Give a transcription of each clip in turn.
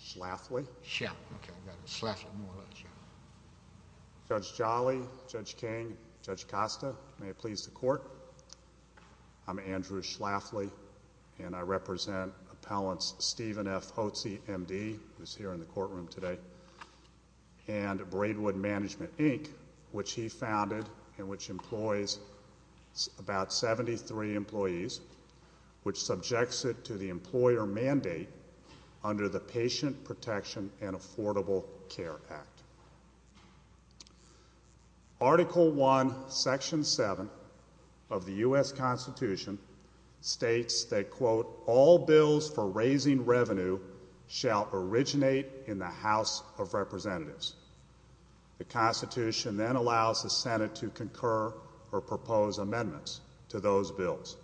Schlafly, Judge Jolly, Judge King, Judge Costa, I'm Andrew Schlafly, and I represent Appellants Stephen F. Hotze, M.D., who is here in the courtroom today, and Braidwood Management, Inc., which he founded and which employs about 73 employees, which subjects it to the employer mandate under the Patient Protection and Affordable Care Act. Article I, Section 7 of the U.S. Constitution states that, quote, all bills for raising revenue shall originate in the House of Representatives. The Constitution then allows the Senate to concur or propose amendments to those bills.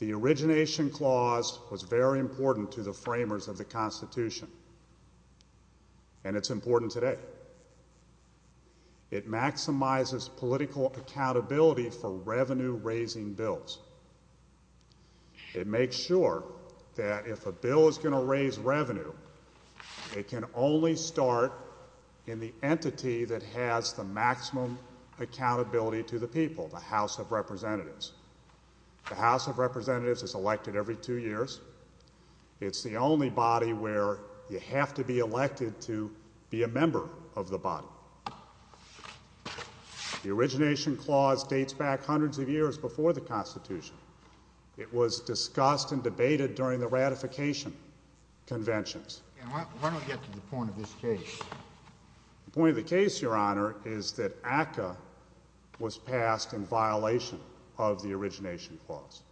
The origination clause was very important to the framers of the Constitution, and it's important today. It maximizes political accountability for revenue-raising bills. It makes sure that if a bill is going to raise revenue, it can only start in the entity that has the maximum accountability to the people, the House of Representatives. The House of Representatives is elected every two years. It's the only body where you have to be elected to be a member of the body. The origination clause dates back hundreds of years before the Constitution. It was discussed and debated during the ratification conventions. Why don't we get to the point of this case? The point of the case, Your Honor, is that ACCA was passed in violation of the origination clause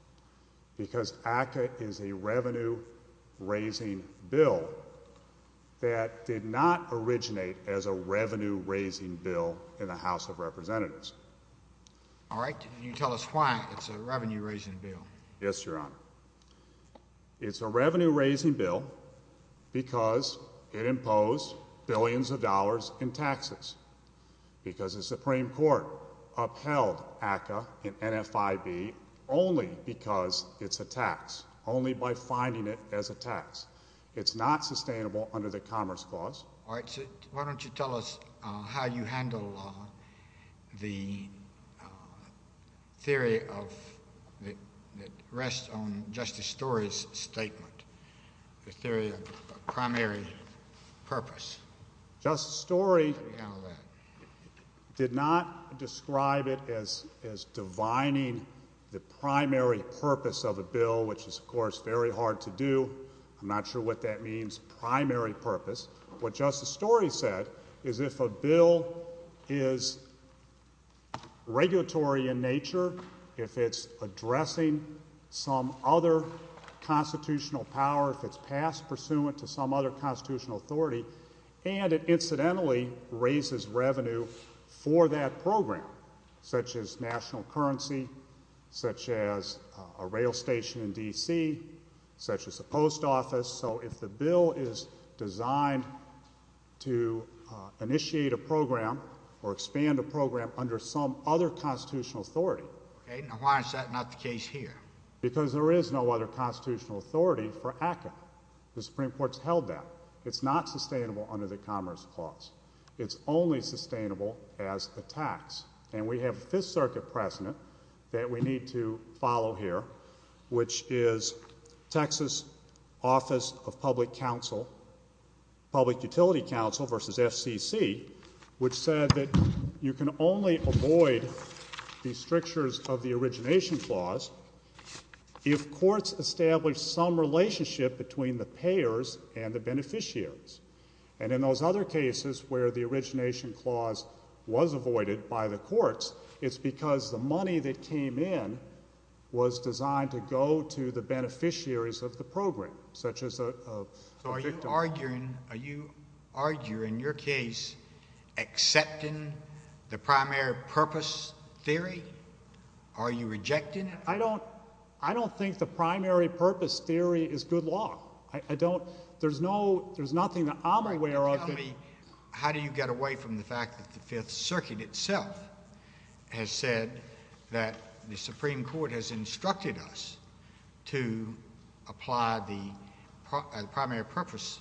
because ACCA is a revenue-raising bill that did not originate as a revenue-raising bill in the House of Representatives. All right. Can you tell us why it's a revenue-raising bill? Yes, Your Honor. It's a revenue-raising bill because it imposed billions of dollars in taxes, because the Supreme Court upheld ACCA in NFIB only because it's a tax, only by finding it as a tax. It's not sustainable under the Commerce Clause. Why don't you tell us how you handle the theory that rests on Justice Story's statement, the theory of primary purpose? Justice Story did not describe it as divining the primary purpose of a bill, which is, of course, very hard to do. I'm not sure what that means, primary purpose. What Justice Story said is if a bill is regulatory in nature, if it's addressing some other constitutional power, if it's passed pursuant to some other constitutional authority, and it incidentally raises revenue for that program, such as national currency, such as a rail station in D.C., such as a post office. So, if the bill is designed to initiate a program or expand a program under some other constitutional authority. Okay. Now, why is that not the case here? Because there is no other constitutional authority for ACCA. The Supreme Court's held that. It's not sustainable under the Commerce Clause. It's only sustainable as a tax. And we have a Fifth Circuit precedent that we need to follow here, which is Texas Office of Public Council, Public Utility Council versus FCC, which said that you can only avoid the strictures of the Origination Clause if courts establish some relationship between the payers and the beneficiaries. And in those other cases where the Origination Clause was avoided by the courts, it's because the money that came in was designed to go to the beneficiaries of the program, such as a victim. Are you arguing, in your case, accepting the primary purpose theory? Are you rejecting it? I don't think the primary purpose theory is good law. I don't—there's nothing that I'm aware of that— How do you get away from the fact that the Fifth Circuit itself has said that the Supreme Court has instructed us to apply the primary purpose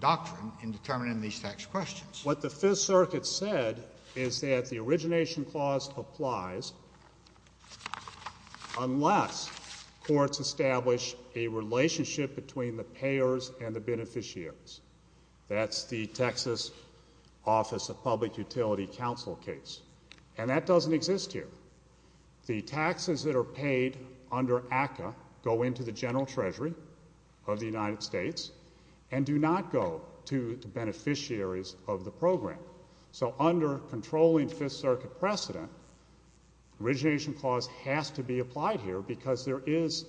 doctrine in determining these tax questions? What the Fifth Circuit said is that the Origination Clause applies unless courts establish a relationship between the payers and the beneficiaries. That's the Texas Office of Public Utility Council case. And that doesn't exist here. The taxes that are paid under ACCA go into the General Treasury of the United States and do not go to the beneficiaries of the program. So under controlling Fifth Circuit precedent, Origination Clause has to be applied here because there is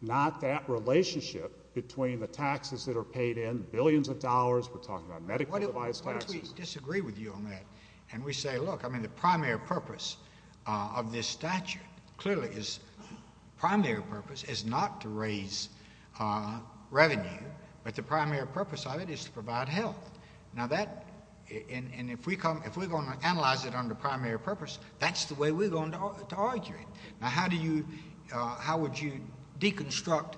not that relationship between the taxes that are paid in, billions of dollars, we're talking about medical device taxes— Why don't we disagree with you on that and we say, look, I mean, the primary purpose of this statute clearly is—primary purpose is not to raise revenue, but the primary purpose of it is to provide health. Now that—and if we come—if we're going to analyze it under primary purpose, that's the way we're going to argue it. Now how do you—how would you deconstruct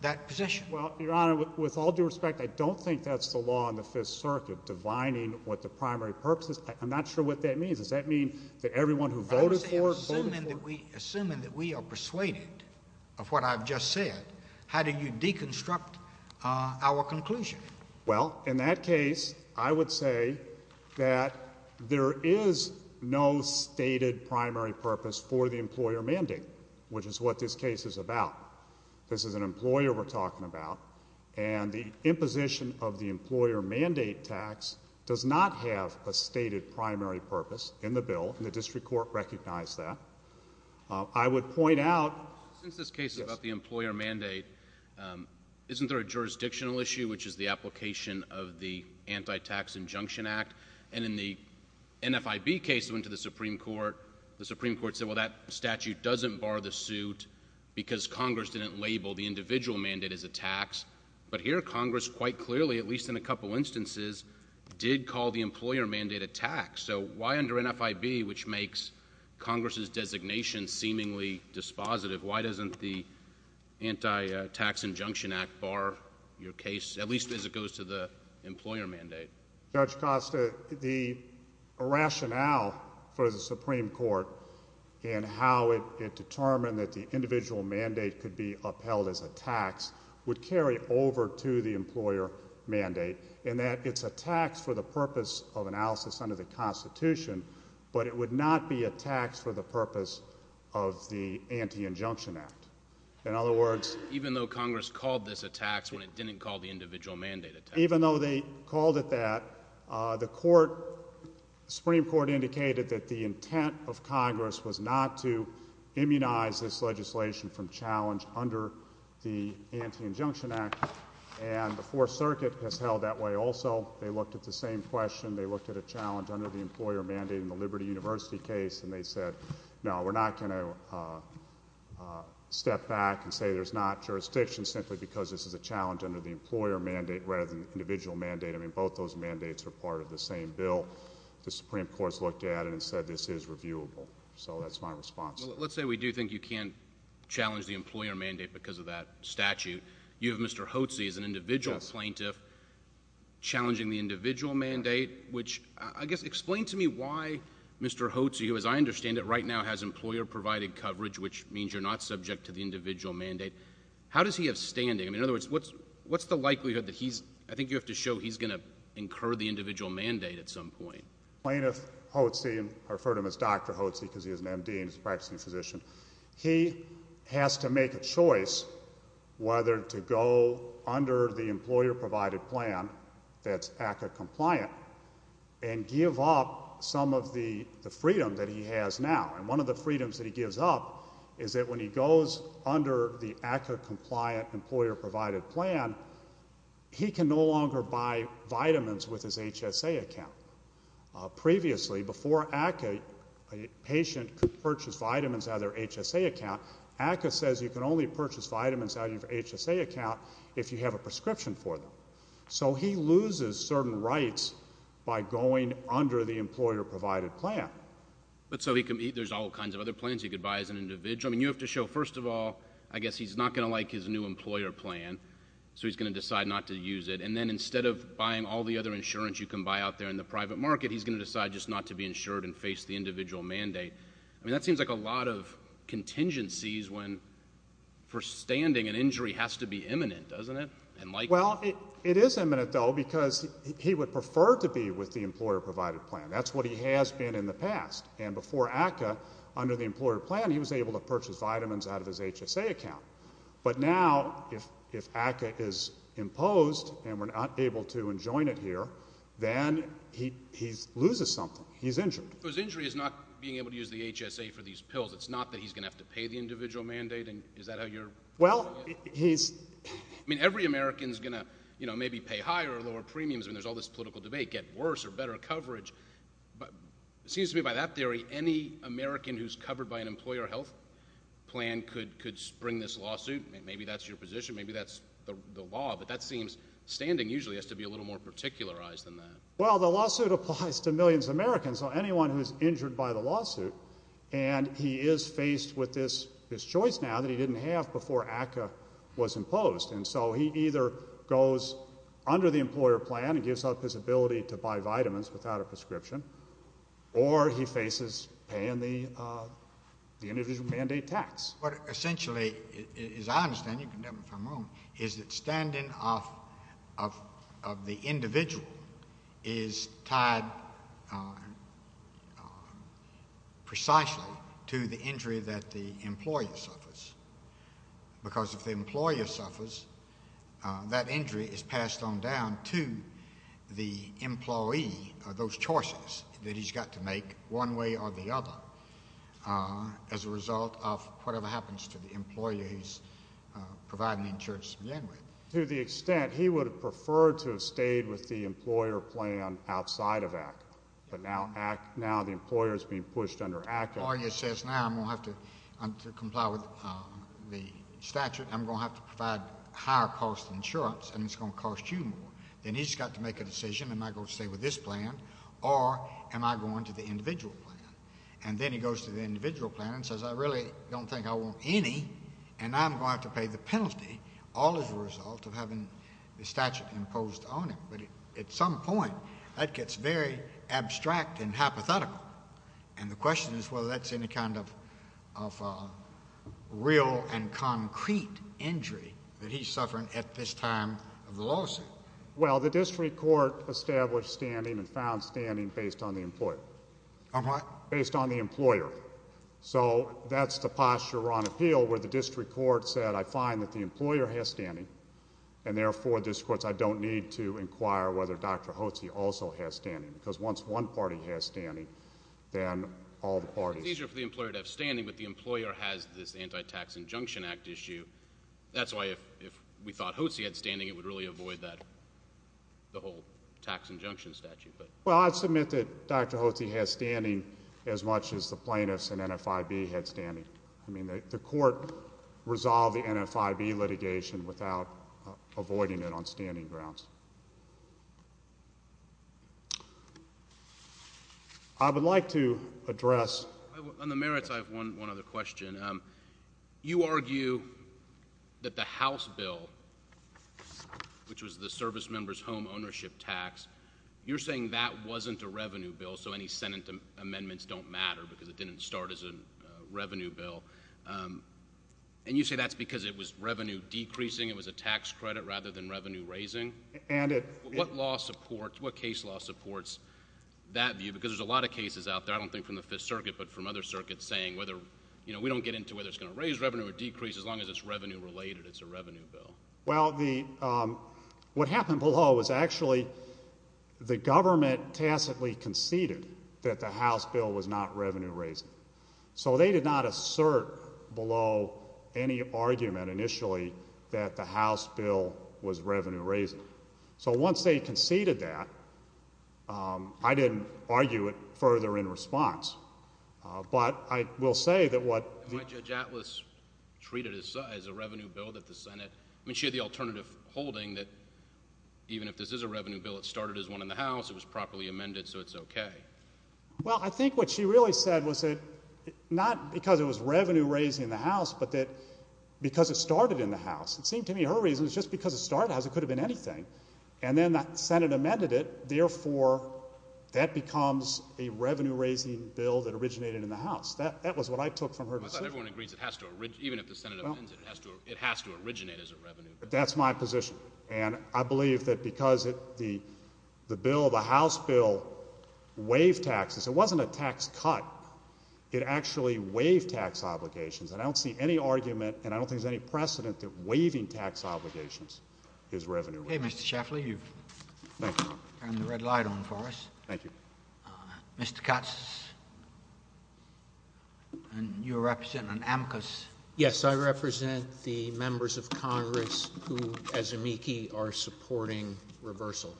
that position? Well, Your Honor, with all due respect, I don't think that's the law in the Fifth Circuit, divining what the primary purpose is. I'm not sure what that means. Does that mean that everyone who voted for it voted for it? Assuming that we are persuaded of what I've just said, how do you deconstruct our conclusion? Well, in that case, I would say that there is no stated primary purpose for the employer mandate, which is what this case is about. This is an employer we're talking about, and the imposition of the employer mandate tax does not have a stated primary purpose in the bill, and the district court recognized that. I would point out— Since this case is about the employer mandate, isn't there a jurisdictional issue, which is the application of the Anti-Tax Injunction Act? And in the NFIB case that went to the Supreme Court, the Supreme Court said, well, that statute doesn't bar the suit because Congress didn't label the individual mandate as a tax. But here, Congress quite clearly, at least in a couple instances, did call the employer mandate a tax. So why under NFIB, which makes Congress' designation seemingly dispositive, why doesn't the Anti-Tax Injunction Act bar your case, at least as it goes to the employer mandate? Judge Costa, the rationale for the Supreme Court and how it determined that the individual mandate could be upheld as a tax would carry over to the employer mandate, in that it's a tax for the purpose of analysis under the Constitution, but it would not be a tax for the purpose of the Anti-Injunction Act. In other words— Even though Congress called this a tax when it didn't call the individual mandate a tax? Even though they called it that, the Supreme Court indicated that the intent of Congress was not to immunize this legislation from challenge under the Anti-Injunction Act, and the Fourth Circuit has held that way also. They looked at the same question. They looked at a challenge under the employer mandate in the Liberty University case, and they said, no, we're not going to step back and say there's not jurisdiction simply because this is a challenge under the employer mandate rather than the individual mandate. I mean, both those mandates are part of the same bill. The Supreme Court has looked at it and said this is reviewable. So that's my response. Well, let's say we do think you can't challenge the employer mandate because of that statute. You have Mr. Hotze as an individual plaintiff challenging the individual mandate, which I guess—explain to me why Mr. Hotze, who as I understand it right now has employer-provided coverage, which means you're not subject to the individual mandate. How does he have standing? I mean, in other words, what's the likelihood that he's—I think you have to show he's going to incur the individual mandate at some point. Plaintiff Hotze—I refer to him as Dr. Hotze because he is an M.D. and he's a practicing physician. He has to make a choice whether to go under the employer-provided plan that's ACCA-compliant and give up some of the freedom that he has now. And one of the freedoms that he gives up is that when he goes under the ACCA-compliant employer-provided plan, he can no longer buy vitamins with his HSA account. Previously, before ACCA, a patient could purchase vitamins out of their HSA account. ACCA says you can only purchase vitamins out of your HSA account if you have a prescription for them. So he loses certain rights by going under the employer-provided plan. But so he can—there's all kinds of other plans he could buy as an individual. I mean, you have to show, first of all, I guess he's not going to like his new employer plan, so he's going to decide not to use it. And then instead of buying all the other insurance you can buy out there in the private market, he's going to decide just not to be insured and face the individual mandate. I mean, that seems like a lot of contingencies when, for standing, an injury has to be imminent, doesn't it? Well, it is imminent, though, because he would prefer to be with the employer-provided plan. That's what he has been in the past. And before ACCA, under the employer plan, he was able to purchase vitamins out of his HSA account. But now if ACCA is imposed and we're not able to enjoin it here, then he loses something. He's injured. So his injury is not being able to use the HSA for these pills. It's not that he's going to have to pay the individual mandate? Is that how you're— Well, he's— I mean, every American is going to maybe pay higher or lower premiums. I mean, there's all this political debate, get worse or better coverage. It seems to me by that theory any American who's covered by an employer health plan could spring this lawsuit. Maybe that's your position. Maybe that's the law. But that seems standing usually has to be a little more particularized than that. Well, the lawsuit applies to millions of Americans, so anyone who's injured by the lawsuit. And he is faced with this choice now that he didn't have before ACCA was imposed. And so he either goes under the employer plan and gives up his ability to buy vitamins without a prescription, or he faces paying the individual mandate tax. What essentially, as I understand—you can demonstrate for a moment— is that standing of the individual is tied precisely to the injury that the employer suffers. Because if the employer suffers, that injury is passed on down to the employee, those choices that he's got to make one way or the other, as a result of whatever happens to the employer he's providing insurance to begin with. To the extent he would have preferred to have stayed with the employer plan outside of ACCA, but now the employer is being pushed under ACCA. The employer says, now I'm going to have to comply with the statute. I'm going to have to provide higher-cost insurance, and it's going to cost you more. Then he's got to make a decision. Am I going to stay with this plan, or am I going to the individual plan? And then he goes to the individual plan and says, I really don't think I want any, and I'm going to have to pay the penalty, all as a result of having the statute imposed on him. But at some point, that gets very abstract and hypothetical. And the question is whether that's any kind of real and concrete injury that he's suffering at this time of the lawsuit. Well, the district court established standing and found standing based on the employer. On what? Based on the employer. So that's the posture on appeal where the district court said, I find that the employer has standing, and therefore the district court said I don't need to inquire whether Dr. Hotze also has standing because once one party has standing, then all the parties. It's easier for the employer to have standing, but the employer has this Anti-Tax Injunction Act issue. That's why if we thought Hotze had standing, it would really avoid the whole tax injunction statute. Well, I'd submit that Dr. Hotze has standing as much as the plaintiffs and NFIB had standing. I mean, the court resolved the NFIB litigation without avoiding it on standing grounds. I would like to address. On the merits, I have one other question. You argue that the House bill, which was the service member's home ownership tax, you're saying that wasn't a revenue bill, so any Senate amendments don't matter because it didn't start as a revenue bill, and you say that's because it was revenue decreasing, it was a tax credit rather than revenue raising. What case law supports that view? Because there's a lot of cases out there, I don't think from the Fifth Circuit, but from other circuits saying we don't get into whether it's going to raise revenue or decrease as long as it's revenue related, it's a revenue bill. Well, what happened below was actually the government tacitly conceded that the House bill was not revenue raising. So they did not assert below any argument initially that the House bill was revenue raising. So once they conceded that, I didn't argue it further in response. But I will say that what the- Why did Judge Atlas treat it as a revenue bill that the Senate- I mean, she had the alternative holding that even if this is a revenue bill, it started as one in the House, it was properly amended, so it's okay. Well, I think what she really said was that not because it was revenue raising in the House, but that because it started in the House. It seemed to me her reason was just because it started in the House, it could have been anything. And then the Senate amended it. Therefore, that becomes a revenue raising bill that originated in the House. That was what I took from her decision. I thought everyone agrees it has to- even if the Senate amends it, it has to originate as a revenue bill. That's my position. And I believe that because the House bill waived taxes, it wasn't a tax cut. It actually waived tax obligations. And I don't see any argument and I don't think there's any precedent that waiving tax obligations is revenue raising. Okay, Mr. Shafferly, you've turned the red light on for us. Thank you. Mr. Katz, you represent an amicus. Yes, I represent the members of Congress who, as amici, are supporting reversal.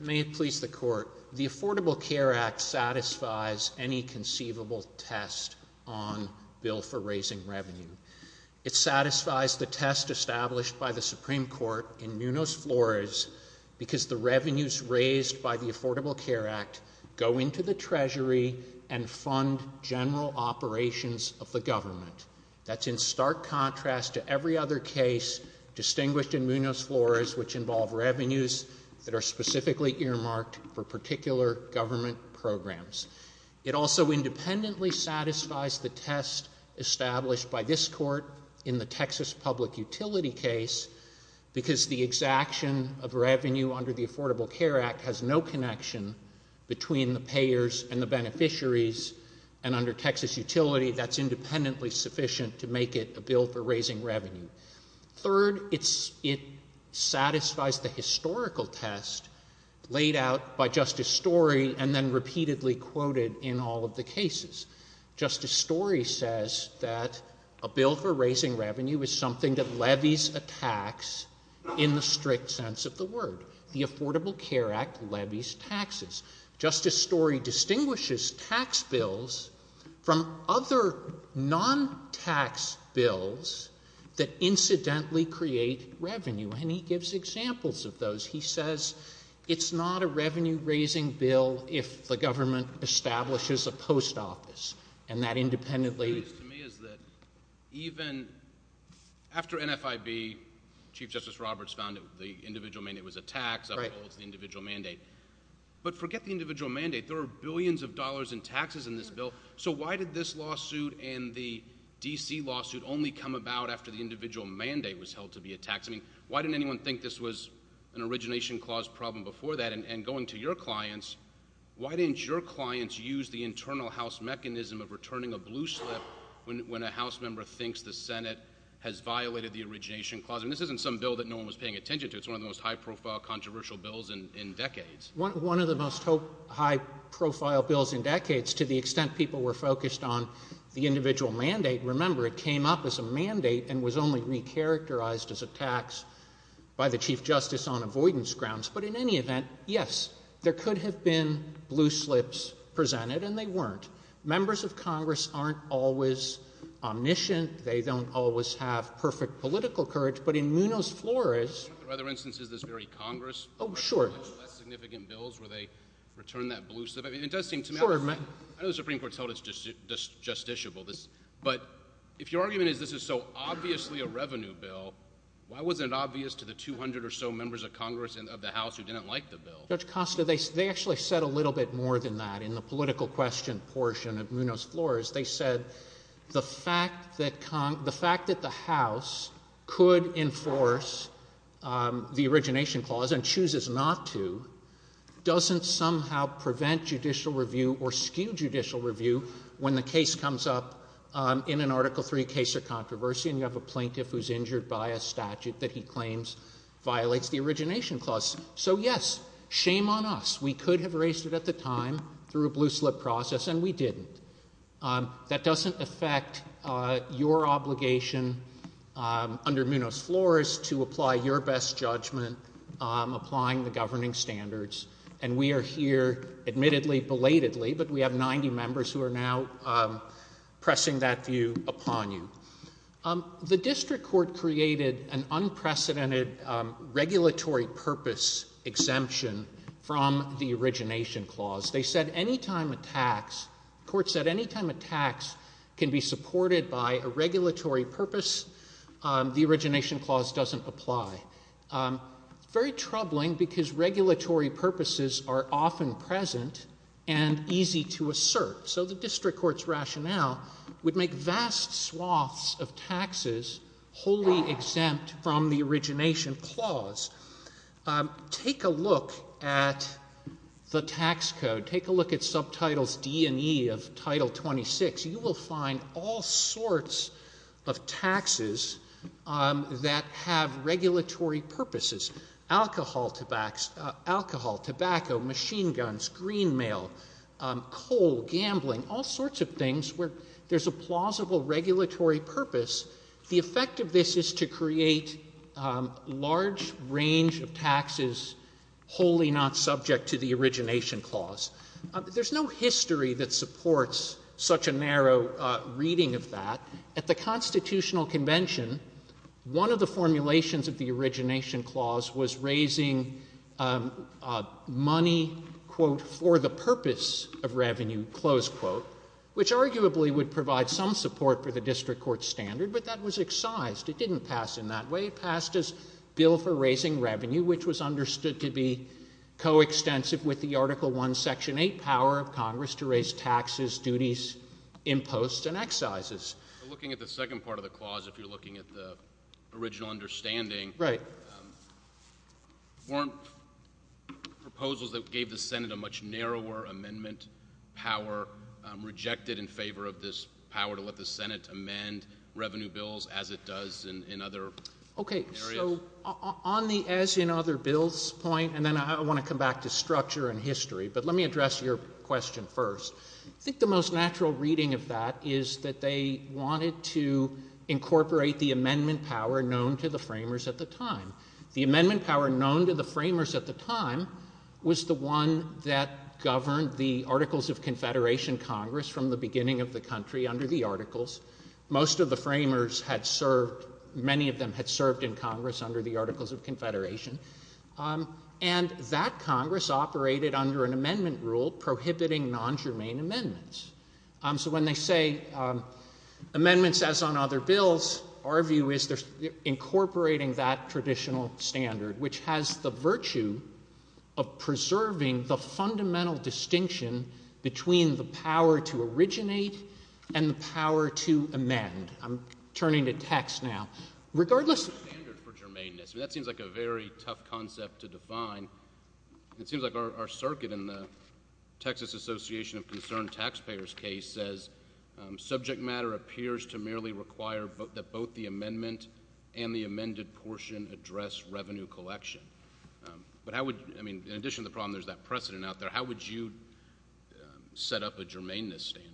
May it please the Court, the Affordable Care Act satisfies any conceivable test on bill for raising revenue. It satisfies the test established by the Supreme Court in Munoz-Flores because the revenues raised by the Affordable Care Act go into the Treasury and fund general operations of the government. That's in stark contrast to every other case distinguished in Munoz-Flores, which involve revenues that are specifically earmarked for particular government programs. It also independently satisfies the test established by this Court in the Texas public utility case because the exaction of revenue under the Affordable Care Act has no connection between the payers and the beneficiaries. And under Texas utility, that's independently sufficient to make it a bill for raising revenue. Third, it satisfies the historical test laid out by Justice Story and then repeatedly quoted in all of the cases. Justice Story says that a bill for raising revenue is something that levies a tax in the strict sense of the word. The Affordable Care Act levies taxes. Justice Story distinguishes tax bills from other non-tax bills that incidentally create revenue. And he gives examples of those. He says it's not a revenue-raising bill if the government establishes a post office and that independently— What's curious to me is that even after NFIB, Chief Justice Roberts found that the individual mandate was a tax, that holds the individual mandate. But forget the individual mandate. There are billions of dollars in taxes in this bill. So why did this lawsuit and the D.C. lawsuit only come about after the individual mandate was held to be a tax? I mean, why didn't anyone think this was an origination clause problem before that? And going to your clients, why didn't your clients use the internal House mechanism of returning a blue slip when a House member thinks the Senate has violated the origination clause? I mean, this isn't some bill that no one was paying attention to. It's one of the most high-profile, controversial bills in decades. One of the most high-profile bills in decades, to the extent people were focused on the individual mandate. Remember, it came up as a mandate and was only re-characterized as a tax by the Chief Justice on avoidance grounds. But in any event, yes, there could have been blue slips presented, and they weren't. Members of Congress aren't always omniscient. They don't always have perfect political courage. But in Munoz-Flores— In other instances, this very Congress— Oh, sure. —had less significant bills where they returned that blue slip. I mean, it does seem to me— Sure. I know the Supreme Court's held it justiciable. But if your argument is this is so obviously a revenue bill, why wasn't it obvious to the 200 or so members of Congress and of the House who didn't like the bill? Judge Costa, they actually said a little bit more than that. In the political question portion of Munoz-Flores, they said the fact that the House could enforce the Origination Clause and chooses not to doesn't somehow prevent judicial review or skew judicial review when the case comes up in an Article III case or controversy and you have a plaintiff who's injured by a statute that he claims violates the Origination Clause. So, yes, shame on us. We could have raised it at the time through a blue slip process, and we didn't. That doesn't affect your obligation under Munoz-Flores to apply your best judgment applying the governing standards. And we are here, admittedly, belatedly, but we have 90 members who are now pressing that view upon you. The district court created an unprecedented regulatory purpose exemption from the Origination Clause. They said any time a tax—the court said any time a tax can be supported by a regulatory purpose, the Origination Clause doesn't apply. Very troubling because regulatory purposes are often present and easy to assert. So the district court's rationale would make vast swaths of taxes wholly exempt from the Origination Clause. Take a look at the tax code. Take a look at Subtitles D and E of Title 26. You will find all sorts of taxes that have regulatory purposes. Alcohol, tobacco, machine guns, green mail, coal, gambling, all sorts of things where there's a plausible regulatory purpose. The effect of this is to create a large range of taxes wholly not subject to the Origination Clause. There's no history that supports such a narrow reading of that. At the Constitutional Convention, one of the formulations of the Origination Clause was raising money, quote, for the purpose of revenue, close quote, which arguably would provide some support for the district court's standard, but that was excised. It didn't pass in that way. It passed as a bill for raising revenue, which was understood to be coextensive with the Article I, Section 8 power of Congress to raise taxes, duties, imposts, and excises. Looking at the second part of the clause, if you're looking at the original understanding, weren't proposals that gave the Senate a much narrower amendment power rejected in favor of this power to let the Senate amend revenue bills as it does in other areas? Okay, so on the as in other bills point, and then I want to come back to structure and history, but let me address your question first. I think the most natural reading of that is that they wanted to incorporate the amendment power known to the framers at the time. The amendment power known to the framers at the time was the one that governed the Articles of Confederation Congress from the beginning of the country under the Articles. Most of the framers had served, many of them had served in Congress under the Articles of Confederation, and that Congress operated under an amendment rule prohibiting non-germane amendments. So when they say amendments as on other bills, our view is they're incorporating that traditional standard, which has the virtue of preserving the fundamental distinction between the power to originate and the power to amend. I'm turning to text now. That seems like a very tough concept to define. It seems like our circuit in the Texas Association of Concerned Taxpayers case says, subject matter appears to merely require that both the amendment and the amended portion address revenue collection. But how would, I mean, in addition to the problem there's that precedent out there, how would you set up a germaneness standard?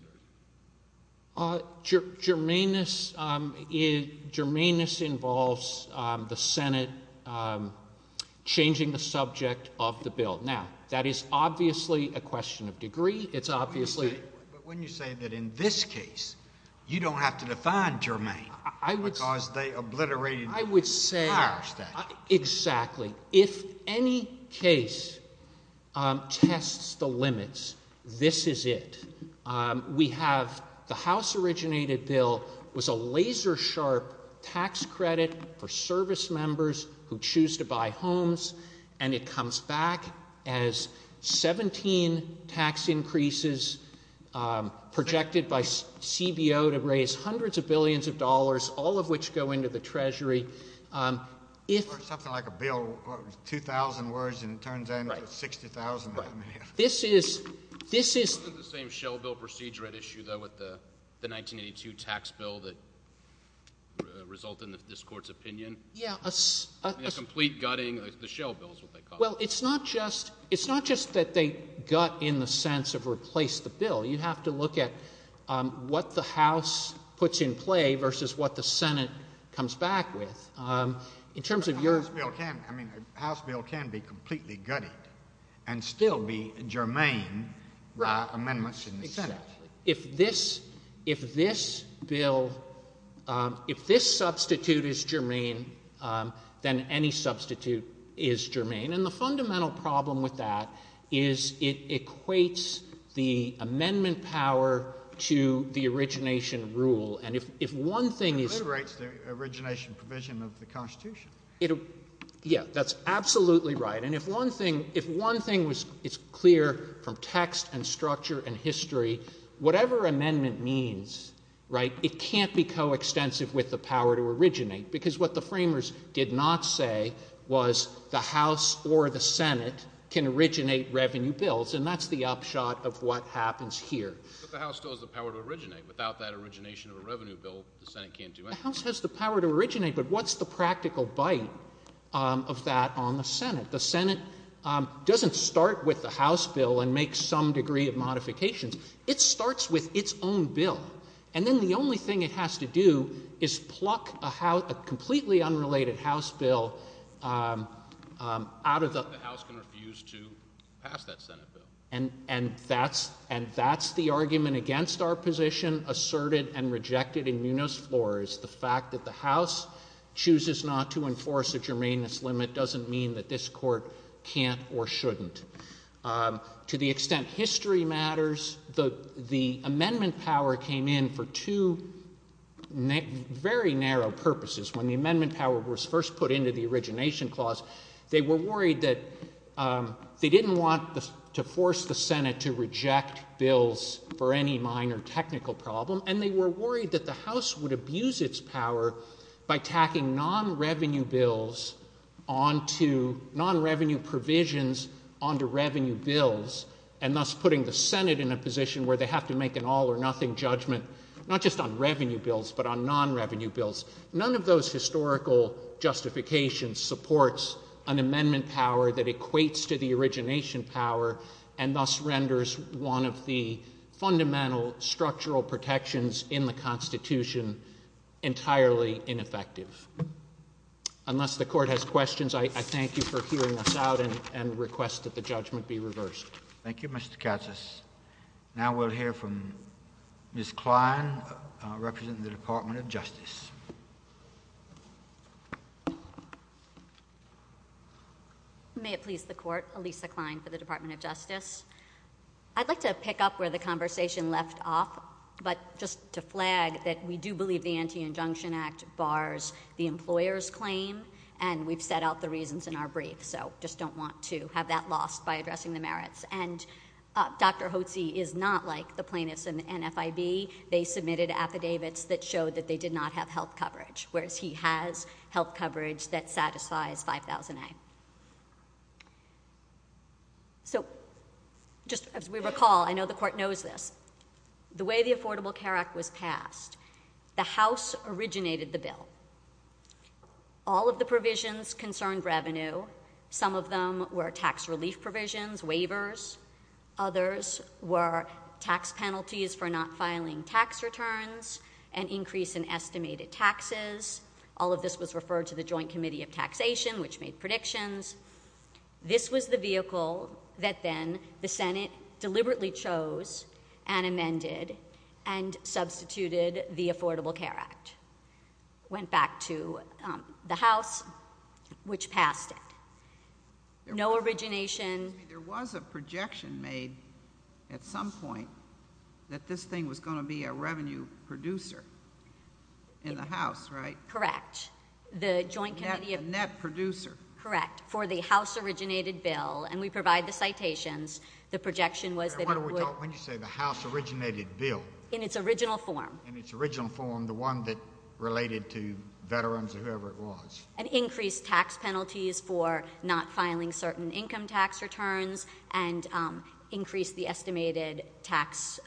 Germaneness involves the Senate changing the subject of the bill. Now, that is obviously a question of degree. It's obviously— But wouldn't you say that in this case you don't have to define germane because they obliterated— Exactly. If any case tests the limits, this is it. We have the House-originated bill was a laser-sharp tax credit for service members who choose to buy homes, and it comes back as 17 tax increases projected by CBO to raise hundreds of billions of dollars, all of which go into the Treasury. Something like a bill, 2,000 words, and it turns out it's 60,000. Right. This is— Isn't it the same shell bill procedure at issue, though, with the 1982 tax bill that resulted in this Court's opinion? Yeah. Complete gutting, the shell bill is what they call it. Well, it's not just that they gut in the sense of replace the bill. You have to look at what the House puts in play versus what the Senate comes back with. In terms of your— The House bill can be completely gutted and still be germane amendments in the Senate. Exactly. If this bill—if this substitute is germane, then any substitute is germane. And the fundamental problem with that is it equates the amendment power to the origination rule. And if one thing is— It obliterates the origination provision of the Constitution. Yeah. That's absolutely right. And if one thing is clear from text and structure and history, whatever amendment means, right, it can't be coextensive with the power to originate, because what the framers did not say was the House or the Senate can originate revenue bills, and that's the upshot of what happens here. But the House still has the power to originate. Without that origination of a revenue bill, the Senate can't do anything. The House has the power to originate, but what's the practical bite of that on the Senate? The Senate doesn't start with the House bill and make some degree of modifications. It starts with its own bill. And then the only thing it has to do is pluck a completely unrelated House bill out of the— The House can refuse to pass that Senate bill. And that's the argument against our position asserted and rejected in Munos Flores. The fact that the House chooses not to enforce a germaneness limit doesn't mean that this Court can't or shouldn't. To the extent history matters, the amendment power came in for two very narrow purposes. When the amendment power was first put into the origination clause, they were worried that they didn't want to force the Senate to reject bills for any minor technical problem, and they were worried that the House would abuse its power by tacking non-revenue bills onto—non-revenue provisions onto revenue bills, and thus putting the Senate in a position where they have to make an all-or-nothing judgment, not just on revenue bills, but on non-revenue bills. None of those historical justifications supports an amendment power that equates to the origination power and thus renders one of the fundamental structural protections in the Constitution entirely ineffective. Unless the Court has questions, I thank you for hearing us out and request that the judgment be reversed. Thank you, Mr. Katsas. Now we'll hear from Ms. Klein, representing the Department of Justice. May it please the Court. Elisa Klein for the Department of Justice. I'd like to pick up where the conversation left off, but just to flag that we do believe the Anti-Injunction Act bars the employer's claim, and we've set out the reasons in our brief, so just don't want to have that lost by addressing the merits. And Dr. Hotze is not like the plaintiffs in the NFIB. They submitted affidavits that showed that they did not have health coverage, whereas he has health coverage that satisfies 5000A. So just as we recall, I know the Court knows this, the way the Affordable Care Act was passed, the House originated the bill. All of the provisions concerned revenue. Some of them were tax relief provisions, waivers. Others were tax penalties for not filing tax returns, an increase in estimated taxes. All of this was referred to the Joint Committee of Taxation, which made predictions. This was the vehicle that then the Senate deliberately chose and amended and substituted the Affordable Care Act. Went back to the House, which passed it. No origination. There was a projection made at some point that this thing was going to be a revenue producer in the House, right? Correct. The Joint Committee of... A net producer. Correct. For the House-originated bill. And we provide the citations. The projection was that it would... When you say the House-originated bill... In its original form. In its original form, the one that related to veterans or whoever it was. An increased tax penalties for not filing certain income tax returns and increased the estimated tax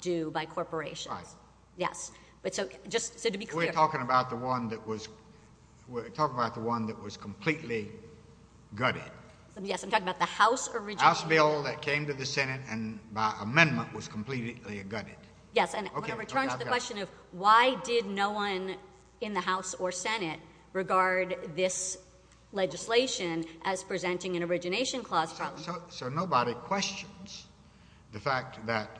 due by corporations. Right. Yes. We're talking about the one that was completely gutted. Yes, I'm talking about the House-originated bill. The House bill that came to the Senate and by amendment was completely gutted. Yes, and I'm going to return to the question of why did no one in the House or Senate regard this legislation as presenting an origination clause problem. So nobody questions the fact that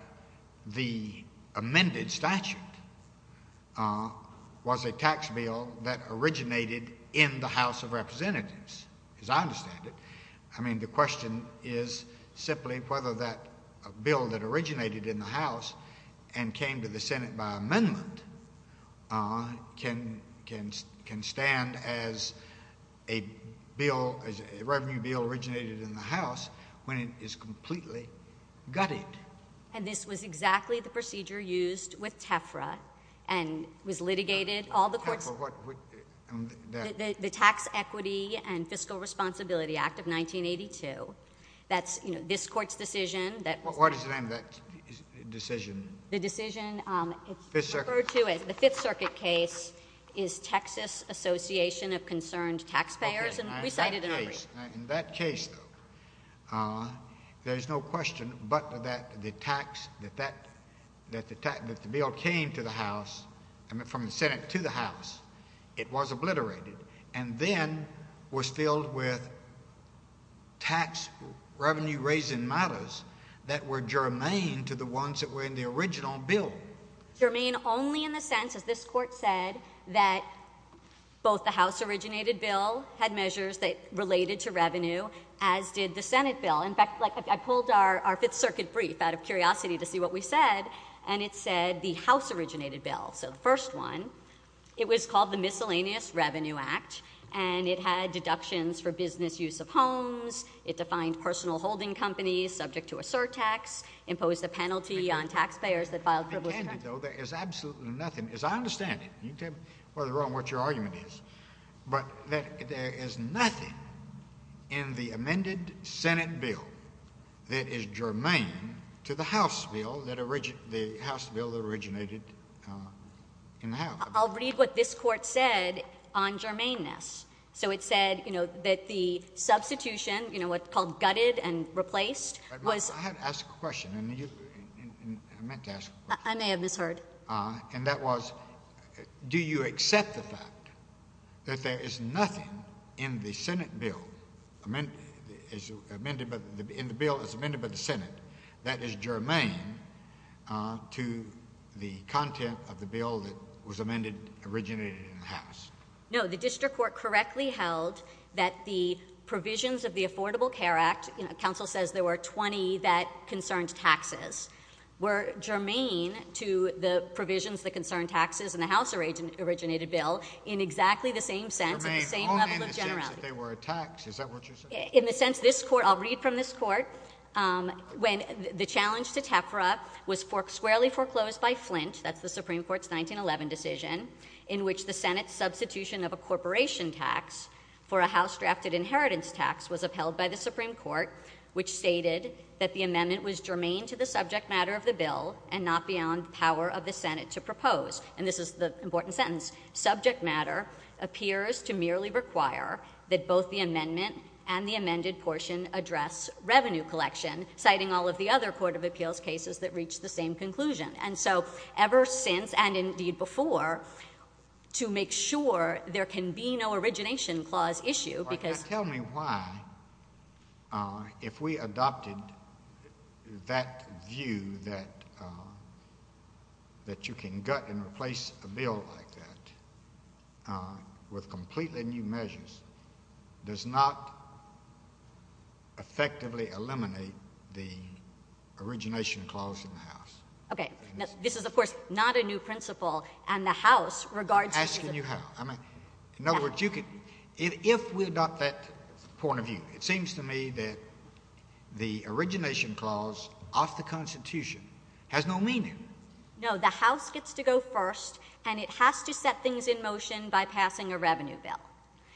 the amended statute was a tax bill that originated in the House of Representatives, as I understand it. I mean, the question is simply whether that bill that originated in the House and came to the Senate by amendment can stand as a revenue bill originated in the House when it is completely gutted. And this was exactly the procedure used with TEFRA and was litigated... TEFRA, what... ...the Tax Equity and Fiscal Responsibility Act of 1982. That's, you know, this Court's decision that... What is the name of that decision? The decision... Fifth Circuit. ...referred to as the Fifth Circuit case is Texas Association of Concerned Taxpayers and recited in every... ...and then was filled with tax revenue raising matters that were germane to the ones that were in the original bill. Germane only in the sense, as this Court said, that both the House-originated bill had measures that related to revenue, as did the Senate bill. In fact, I pulled our Fifth Circuit brief out of curiosity to see what we said, and it said the House-originated bill. So the first one, it was called the Miscellaneous Revenue Act, and it had deductions for business use of homes. It defined personal holding companies subject to a surtax, imposed a penalty on taxpayers that filed privilege... ...there is absolutely nothing, as I understand it, you can tell me whether or not what your argument is, but there is nothing in the amended Senate bill that is germane to the House bill that originated in the House. I'll read what this Court said on germaneness. So it said, you know, that the substitution, you know, what's called gutted and replaced, was... I had to ask a question, and I meant to ask a question. I may have misheard. And that was, do you accept the fact that there is nothing in the Senate bill, in the bill that's amended by the Senate, that is germane to the content of the bill that was amended, originated in the House? No, the district court correctly held that the provisions of the Affordable Care Act, you know, counsel says there were 20 that concerned taxes, were germane to the provisions that concerned taxes in the House-originated bill in exactly the same sense, in the same level of generality. Germane only in the sense that they were a tax. Is that what you're saying? In the sense this Court, I'll read from this Court. When the challenge to TEFRA was squarely foreclosed by Flint, that's the Supreme Court's 1911 decision, in which the Senate's substitution of a corporation tax for a House-drafted inheritance tax was upheld by the Supreme Court, which stated that the amendment was germane to the subject matter of the bill and not beyond the power of the Senate to propose. And this is the important sentence. Subject matter appears to merely require that both the amendment and the amended portion address revenue collection, citing all of the other Court of Appeals cases that reach the same conclusion. And so ever since, and indeed before, to make sure there can be no origination clause issue because- Now, if we adopted that view that you can gut and replace a bill like that with completely new measures, does not effectively eliminate the origination clause in the House. Okay. This is, of course, not a new principle, and the House regards- I'm asking you how. In other words, if we adopt that point of view, it seems to me that the origination clause off the Constitution has no meaning. No. The House gets to go first, and it has to set things in motion by passing a revenue bill.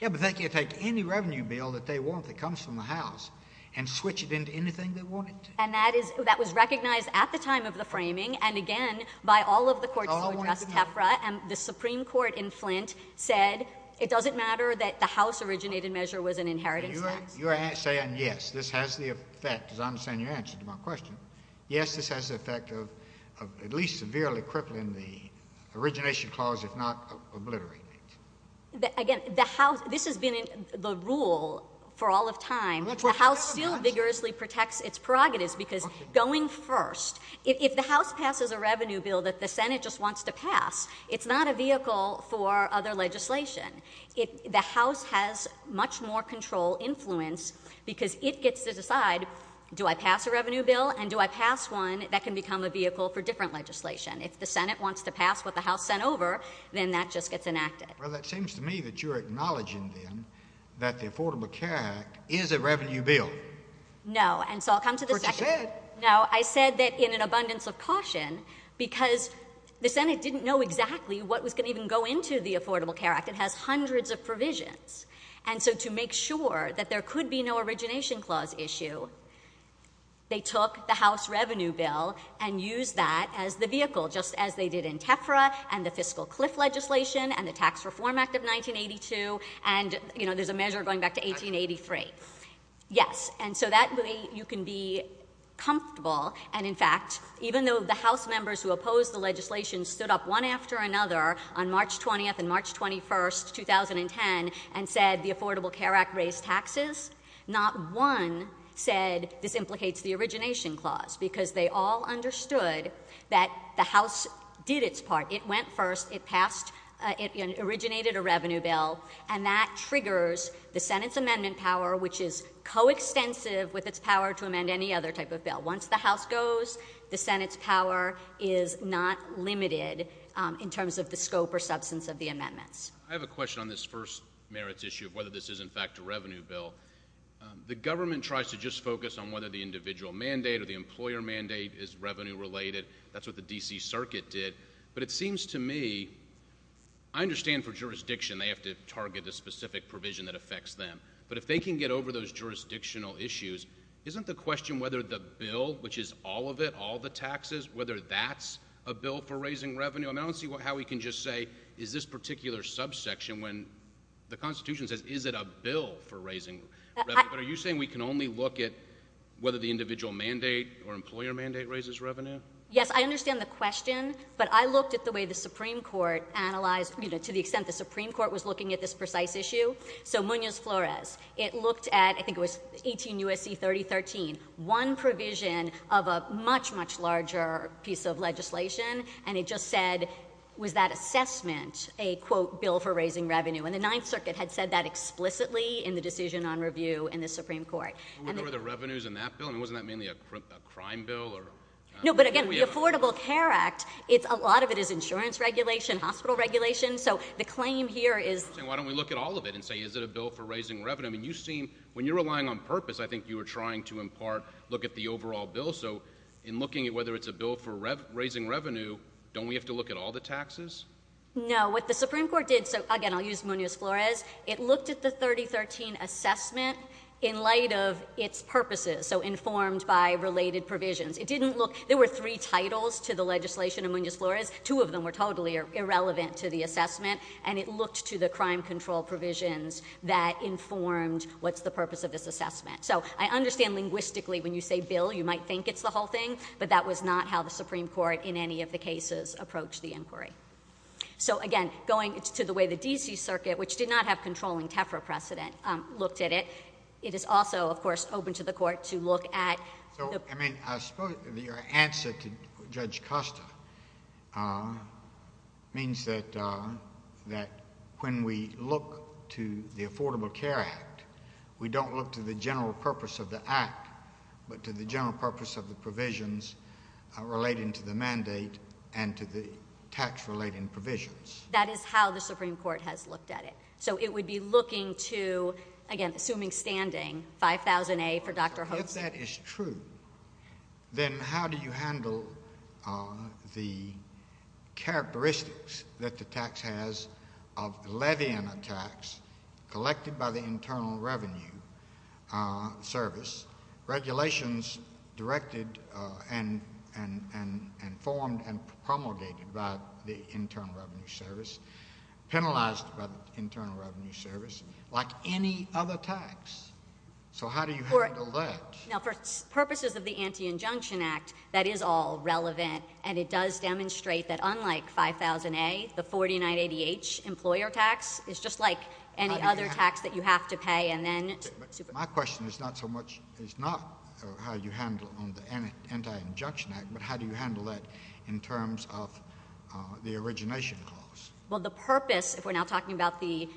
Yeah, but they can take any revenue bill that they want that comes from the House and switch it into anything they want it to. And that was recognized at the time of the framing, and again, by all of the courts who addressed TEFRA, and the Supreme Court in Flint said it doesn't matter that the House-originated measure was an inheritance tax. You're saying, yes, this has the effect, as I understand your answer to my question, yes, this has the effect of at least severely crippling the origination clause, if not obliterating it. Again, this has been the rule for all of time. The House still vigorously protects its prerogatives because going first, if the House passes a revenue bill that the Senate just wants to pass, it's not a vehicle for other legislation. The House has much more control influence because it gets to decide, do I pass a revenue bill, and do I pass one that can become a vehicle for different legislation? If the Senate wants to pass what the House sent over, then that just gets enacted. Well, that seems to me that you're acknowledging, then, that the Affordable Care Act is a revenue bill. No, and so I'll come to the second. That's what you said. Now, I said that in an abundance of caution because the Senate didn't know exactly what was going to even go into the Affordable Care Act. It has hundreds of provisions, and so to make sure that there could be no origination clause issue, they took the House revenue bill and used that as the vehicle, just as they did in TEFRA and the fiscal cliff legislation and the Tax Reform Act of 1982, and, you know, there's a measure going back to 1883. Yes, and so that way you can be comfortable, and, in fact, even though the House members who opposed the legislation stood up one after another on March 20th and March 21st, 2010, and said the Affordable Care Act raised taxes, not one said this implicates the origination clause because they all understood that the House did its part. It went first. It passed. It originated a revenue bill, and that triggers the Senate's amendment power, which is coextensive with its power to amend any other type of bill. Once the House goes, the Senate's power is not limited in terms of the scope or substance of the amendments. I have a question on this first merits issue of whether this is, in fact, a revenue bill. The government tries to just focus on whether the individual mandate or the employer mandate is revenue-related. That's what the D.C. Circuit did. But it seems to me I understand for jurisdiction they have to target the specific provision that affects them, but if they can get over those jurisdictional issues, isn't the question whether the bill, which is all of it, all the taxes, whether that's a bill for raising revenue? I don't see how we can just say is this particular subsection when the Constitution says is it a bill for raising revenue, but are you saying we can only look at whether the individual mandate or employer mandate raises revenue? Yes, I understand the question, but I looked at the way the Supreme Court analyzed, to the extent the Supreme Court was looking at this precise issue. So Munoz-Flores, it looked at, I think it was 18 U.S.C. 3013, one provision of a much, much larger piece of legislation, and it just said was that assessment a, quote, bill for raising revenue? And the Ninth Circuit had said that explicitly in the decision on review in the Supreme Court. Were there revenues in that bill? I mean, wasn't that mainly a crime bill? No, but again, the Affordable Care Act, a lot of it is insurance regulation, hospital regulation. So the claim here is— I'm saying why don't we look at all of it and say is it a bill for raising revenue? I mean, you seem, when you're relying on purpose, I think you were trying to, in part, look at the overall bill. So in looking at whether it's a bill for raising revenue, don't we have to look at all the taxes? No, what the Supreme Court did—so again, I'll use Munoz-Flores. It looked at the 3013 assessment in light of its purposes, so informed by related provisions. It didn't look—there were three titles to the legislation of Munoz-Flores. Two of them were totally irrelevant to the assessment, and it looked to the crime control provisions that informed what's the purpose of this assessment. So I understand linguistically when you say bill, you might think it's the whole thing, but that was not how the Supreme Court in any of the cases approached the inquiry. So again, going to the way the D.C. Circuit, which did not have controlling TEFRA precedent, looked at it, it is also, of course, open to the Court to look at— So, I mean, I suppose your answer to Judge Costa means that when we look to the Affordable Care Act, we don't look to the general purpose of the act, but to the general purpose of the provisions relating to the mandate and to the tax-related provisions. That is how the Supreme Court has looked at it. So it would be looking to, again, assuming standing, 5000A for Dr. Hobson. If that is true, then how do you handle the characteristics that the tax has of levying a tax collected by the Internal Revenue Service, regulations directed and formed and promulgated by the Internal Revenue Service, penalized by the Internal Revenue Service, like any other tax? So how do you handle that? Now, for purposes of the Anti-Injunction Act, that is all relevant, and it does demonstrate that unlike 5000A, the 4980H employer tax is just like any other tax that you have to pay and then— But my question is not so much—is not how you handle it on the Anti-Injunction Act, but how do you handle that in terms of the origination clause? Well, the purpose, if we're now talking about the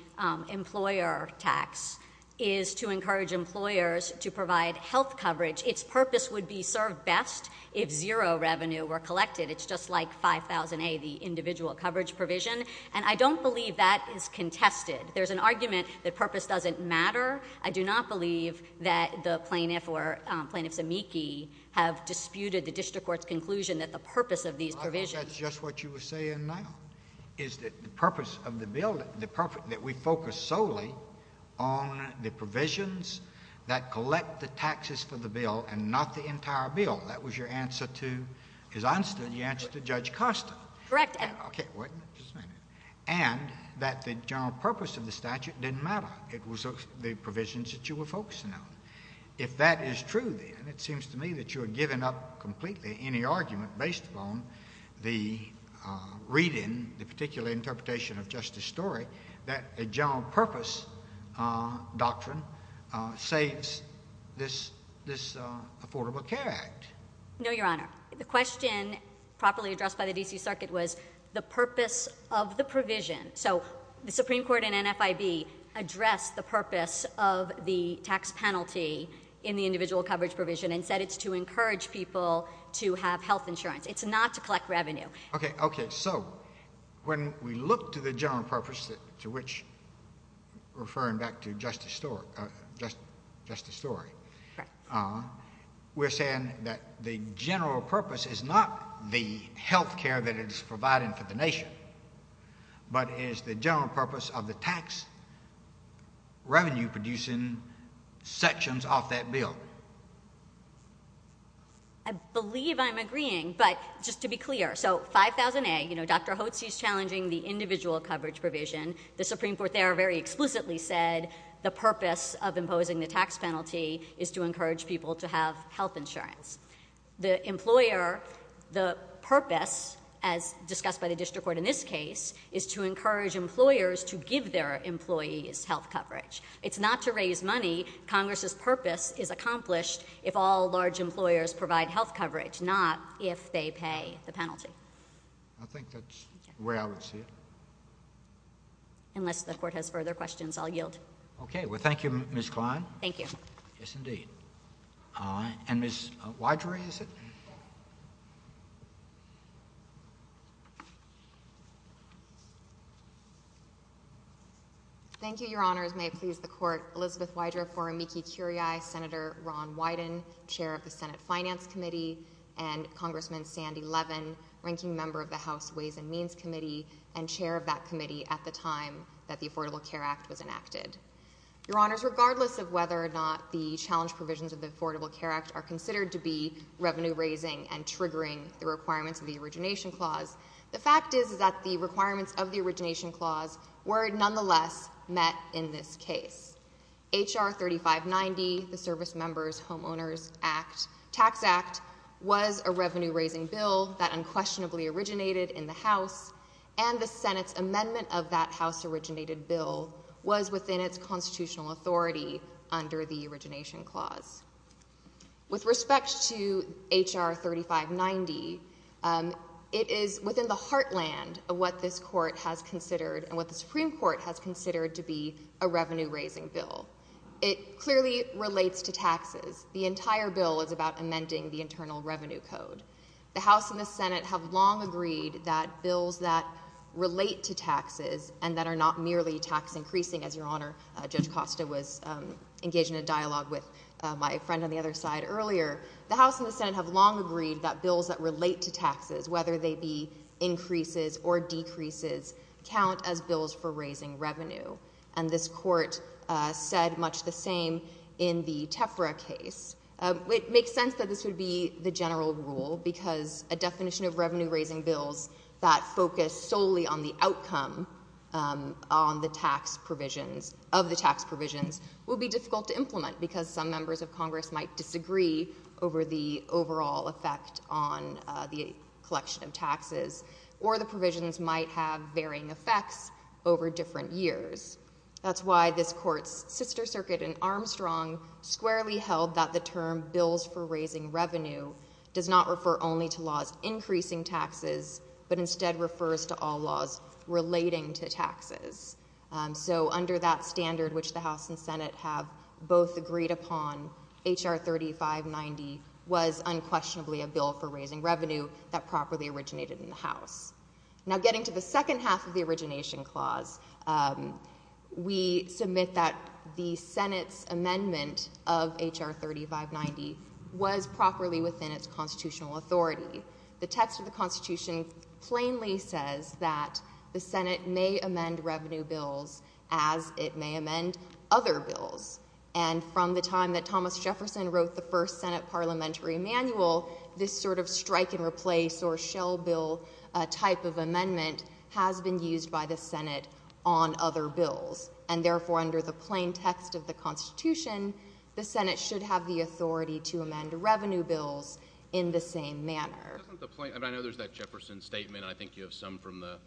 employer tax, is to encourage employers to provide health coverage. Its purpose would be served best if zero revenue were collected. It's just like 5000A, the individual coverage provision, and I don't believe that is contested. There's an argument that purpose doesn't matter. I do not believe that the plaintiff or Plaintiff Zemecki have disputed the district court's conclusion that the purpose of these provisions— that the purpose of the bill—that we focus solely on the provisions that collect the taxes for the bill and not the entire bill. That was your answer to—as I understood it, your answer to Judge Costa. Correct answer. Okay. Wait a minute. Just a minute. And that the general purpose of the statute didn't matter. It was the provisions that you were focusing on. If that is true, then, it seems to me that you are giving up completely any argument based upon the reading, the particular interpretation of Justice Story, that a general purpose doctrine saves this Affordable Care Act. No, Your Honor. The question properly addressed by the D.C. Circuit was the purpose of the provision. So, the Supreme Court and NFIB addressed the purpose of the tax penalty in the individual coverage provision and said it's to encourage people to have health insurance. It's not to collect revenue. Okay. Okay. So, when we look to the general purpose, to which—referring back to Justice Story—we're saying that the general purpose is not the health care that it's providing for the nation, but it's the general purpose of the tax revenue-producing sections of that bill. I believe I'm agreeing, but just to be clear. So, 5000A, you know, Dr. Hotz is challenging the individual coverage provision. The Supreme Court there very explicitly said the purpose of imposing the tax penalty is to encourage people to have health insurance. The employer—the purpose, as discussed by the district court in this case, is to encourage employers to give their employees health coverage. It's not to raise money. Congress's purpose is accomplished if all large employers provide health coverage, not if they pay the penalty. I think that's where I would see it. Unless the Court has further questions, I'll yield. Okay. Well, thank you, Ms. Kline. Thank you. Yes, indeed. And Ms. Wydra, is it? Thank you, Your Honors. May it please the Court, Elizabeth Wydra for Amiki Curiai, Senator Ron Wyden, chair of the Senate Finance Committee, and Congressman Sandy Levin, ranking member of the House Ways and Means Committee and chair of that committee at the time that the Affordable Care Act was enacted. Your Honors, regardless of whether or not the challenge provisions of the Affordable Care Act are considered to be revenue-raising and triggering the requirements of the Origination Clause, the fact is that the requirements of the Origination Clause were nonetheless met in this case. H.R. 3590, the Service Members Homeowners Tax Act, was a revenue-raising bill that unquestionably originated in the House, and the Senate's amendment of that House-originated bill was within its constitutional authority under the Origination Clause. With respect to H.R. 3590, it is within the heartland of what this Court has considered and what the Supreme Court has considered to be a revenue-raising bill. It clearly relates to taxes. The entire bill is about amending the Internal Revenue Code. The House and the Senate have long agreed that bills that relate to taxes and that are not merely tax-increasing, as Your Honor, Judge Costa was engaged in a dialogue with my friend on the other side earlier, the House and the Senate have long agreed that bills that relate to taxes, whether they be increases or decreases, count as bills for raising revenue. And this Court said much the same in the TEFRA case. It makes sense that this would be the general rule because a definition of revenue-raising bills that focus solely on the outcome of the tax provisions will be difficult to implement because some members of Congress might disagree over the overall effect on the collection of taxes, or the provisions might have varying effects over different years. That's why this Court's sister circuit in Armstrong squarely held that the term bills for raising revenue does not refer only to laws increasing taxes, but instead refers to all laws relating to taxes. So under that standard, which the House and Senate have both agreed upon, H.R. 3590 was unquestionably a bill for raising revenue that properly originated in the House. Now getting to the second half of the origination clause, we submit that the Senate's amendment of H.R. 3590 was properly within its constitutional authority. The text of the Constitution plainly says that the Senate may amend revenue bills as it may amend other bills. And from the time that Thomas Jefferson wrote the first Senate Parliamentary Manual, this sort of strike and replace or shell bill type of amendment has been used by the Senate on other bills. And therefore, under the plain text of the Constitution, the Senate should have the authority to amend revenue bills in the same manner. I know there's that Jefferson statement. I think you have some from the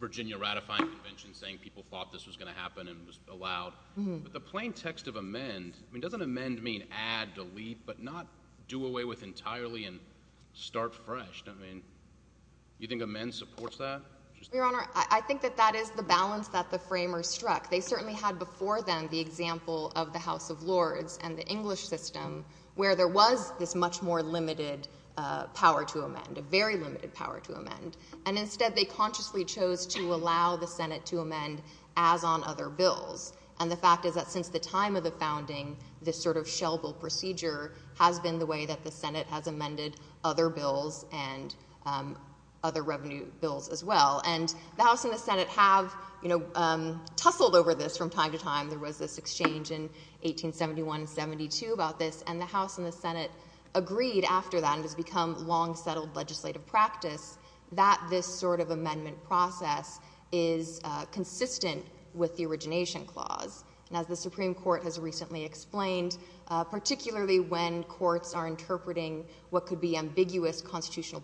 Virginia ratifying convention saying people thought this was going to happen and was allowed. But the plain text of amend, I mean, doesn't amend mean add, delete, but not do away with entirely and start fresh? I mean, you think amend supports that? Your Honor, I think that that is the balance that the framers struck. They certainly had before them the example of the House of Lords and the English system, where there was this much more limited power to amend, a very limited power to amend. And instead, they consciously chose to allow the Senate to amend as on other bills. And the fact is that since the time of the founding, this sort of shell bill procedure has been the way that the Senate has amended other bills and other revenue bills as well. And the House and the Senate have, you know, tussled over this from time to time. There was this exchange in 1871 and 1872 about this. And the House and the Senate agreed after that, and it has become long-settled legislative practice, that this sort of amendment process is consistent with the Origination Clause. And as the Supreme Court has recently explained, particularly when courts are interpreting what could be ambiguous constitutional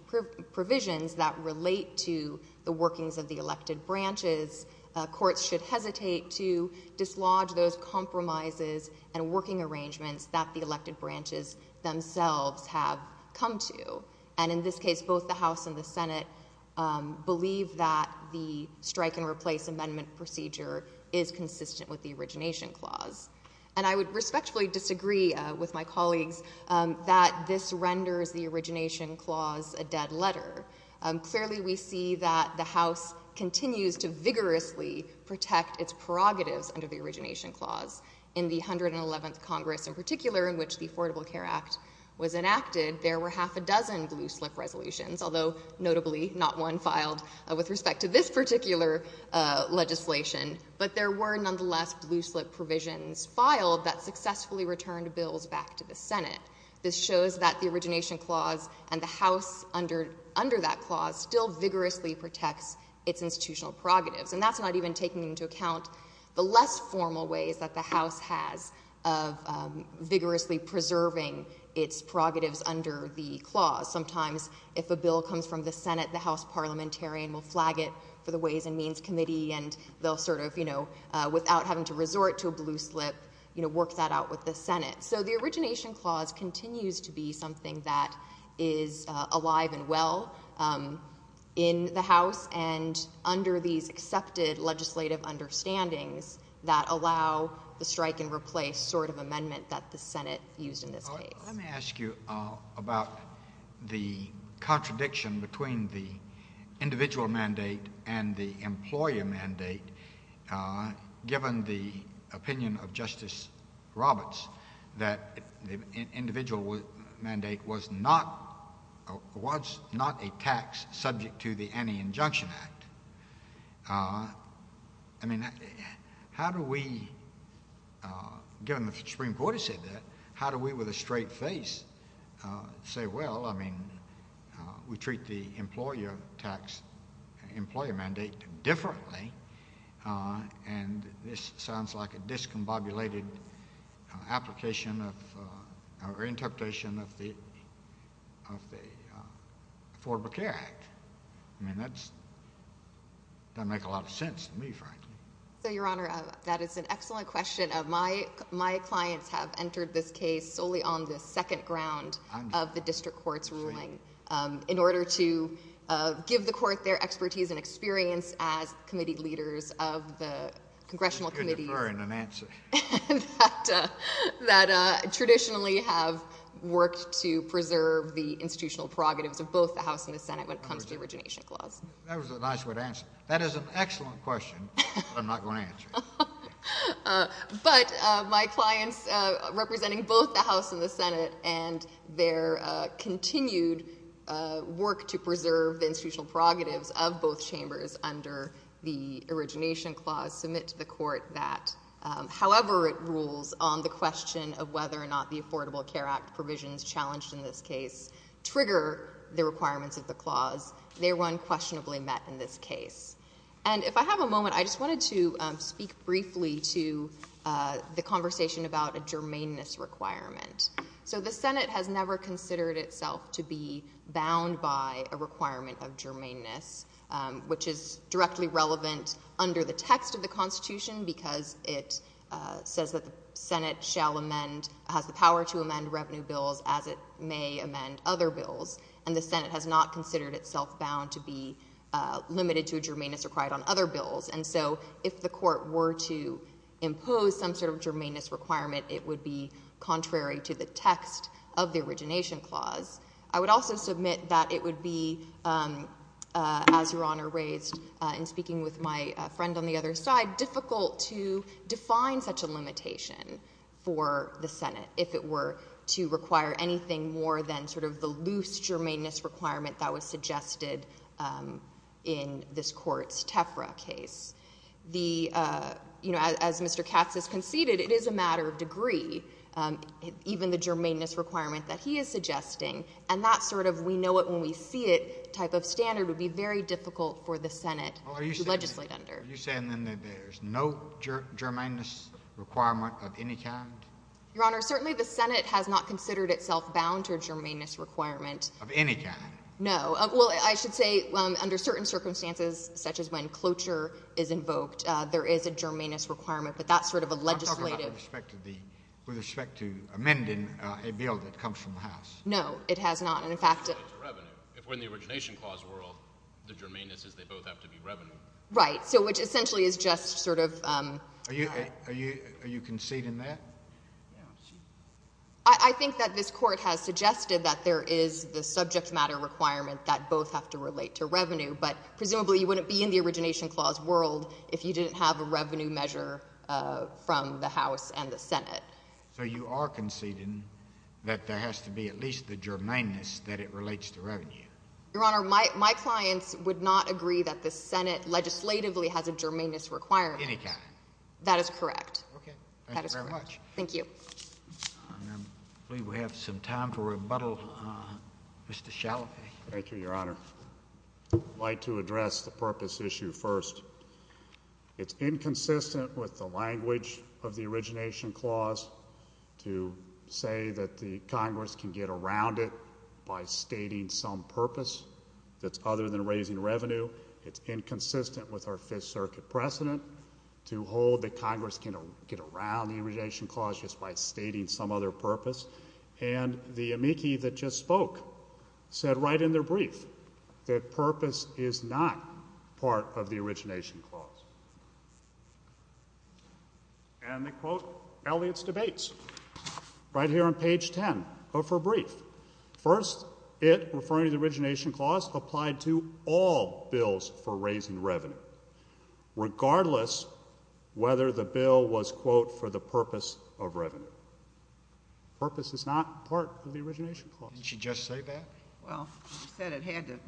provisions that relate to the workings of the elected branches, courts should hesitate to dislodge those compromises and working arrangements that the elected branches themselves have come to. And in this case, both the House and the Senate believe that the strike and replace amendment procedure is consistent with the Origination Clause. And I would respectfully disagree with my colleagues that this renders the Origination Clause a dead letter. Clearly, we see that the House continues to vigorously protect its prerogatives under the Origination Clause. In the 111th Congress in particular, in which the Affordable Care Act was enacted, there were half a dozen blue-slip resolutions, although, notably, not one filed with respect to this particular legislation. But there were, nonetheless, blue-slip provisions filed that successfully returned bills back to the Senate. This shows that the Origination Clause and the House under that clause still vigorously protects its institutional prerogatives. And that's not even taking into account the less formal ways that the House has of vigorously preserving its prerogatives under the clause. Sometimes, if a bill comes from the Senate, the House parliamentarian will flag it for the Ways and Means Committee, and they'll sort of, you know, without having to resort to a blue slip, you know, work that out with the Senate. So the Origination Clause continues to be something that is alive and well in the House, and under these accepted legislative understandings that allow the strike-and-replace sort of amendment that the Senate used in this case. Well, let me ask you about the contradiction between the individual mandate and the employer mandate, given the opinion of Justice Roberts that the individual mandate was not a tax subject to the Anti-Injunction Act. I mean, how do we, given the Supreme Court has said that, how do we with a straight face say, well, I mean, we treat the employer tax, employer mandate differently, and this sounds like a discombobulated application or interpretation of the Affordable Care Act. I mean, that doesn't make a lot of sense to me, frankly. So, Your Honor, that is an excellent question. My clients have entered this case solely on the second ground of the district court's ruling, in order to give the court their expertise and experience as committee leaders of the congressional committees that traditionally have worked to preserve the institutional prerogatives of both the House and the Senate when it comes to the origination clause. That was a nice way to answer it. That is an excellent question, but I'm not going to answer it. But my clients representing both the House and the Senate and their continued work to preserve the institutional prerogatives of both chambers under the origination clause submit to the court that however it rules on the question of whether or not the Affordable Care Act provisions challenged in this case trigger the requirements of the clause, they are unquestionably met in this case. And if I have a moment, I just wanted to speak briefly to the conversation about a germaneness requirement. So the Senate has never considered itself to be bound by a requirement of germaneness, which is directly relevant under the text of the Constitution because it says that the Senate shall amend, has the power to amend revenue bills as it may amend other bills. And the Senate has not considered itself bound to be limited to a germaneness required on other bills. And so if the court were to impose some sort of germaneness requirement, it would be contrary to the text of the origination clause. I would also submit that it would be, as Your Honor raised in speaking with my friend on the other side, difficult to define such a limitation for the Senate if it were to require anything more than sort of the loose germaneness requirement that was suggested in this court's TEFRA case. The, you know, as Mr. Katz has conceded, it is a matter of degree, even the germaneness requirement that he is suggesting. And that sort of we know it when we see it type of standard would be very difficult for the Senate to legislate under. Are you saying then that there's no germaneness requirement of any kind? Your Honor, certainly the Senate has not considered itself bound to a germaneness requirement. Of any kind? No. Well, I should say under certain circumstances, such as when cloture is invoked, there is a germaneness requirement. But that's sort of a legislative — I'm talking about with respect to the — with respect to amending a bill that comes from the House. No, it has not. And, in fact — It's revenue. If we're in the origination clause world, the germaneness is they both have to be revenue. Right. So which essentially is just sort of — Are you conceding that? I think that this Court has suggested that there is the subject matter requirement that both have to relate to revenue. But presumably you wouldn't be in the origination clause world if you didn't have a revenue measure from the House and the Senate. So you are conceding that there has to be at least the germaneness that it relates to revenue? Your Honor, my clients would not agree that the Senate legislatively has a germaneness requirement. Of any kind? That is correct. Okay. Thank you very much. Thank you. I believe we have some time for rebuttal. Mr. Chalafy. Thank you, Your Honor. I'd like to address the purpose issue first. It's inconsistent with the language of the origination clause to say that the Congress can get around it by stating some purpose that's other than raising revenue. It's inconsistent with our Fifth Circuit precedent to hold that Congress can get around the origination clause just by stating some other purpose. And the amici that just spoke said right in their brief that purpose is not part of the origination clause. And they quote Elliott's debates right here on page 10 of her brief. First, it, referring to the origination clause, applied to all bills for raising revenue regardless whether the bill was, quote, for the purpose of revenue. Purpose is not part of the origination clause. Didn't she just say that? Well, she said it had to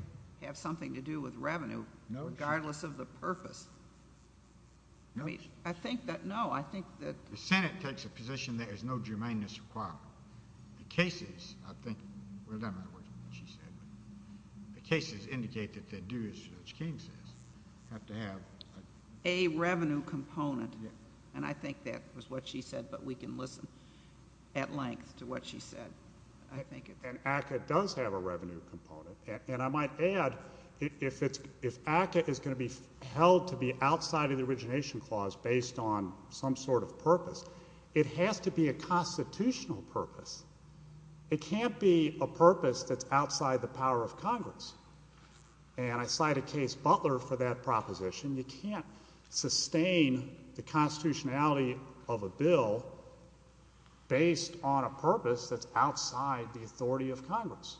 have something to do with revenue regardless of the purpose. I think that, no, I think that. The Senate takes a position that there's no germaneness requirement. The cases, I think, well, that might work, what she said, but the cases indicate that they do, as Judge King says, have to have. A revenue component. And I think that was what she said, but we can listen at length to what she said. And ACCA does have a revenue component. And I might add, if ACCA is going to be held to be outside of the origination clause based on some sort of purpose, it has to be a constitutional purpose. It can't be a purpose that's outside the power of Congress. And I cite a case, Butler, for that proposition. You can't sustain the constitutionality of a bill based on a purpose that's outside the authority of Congress.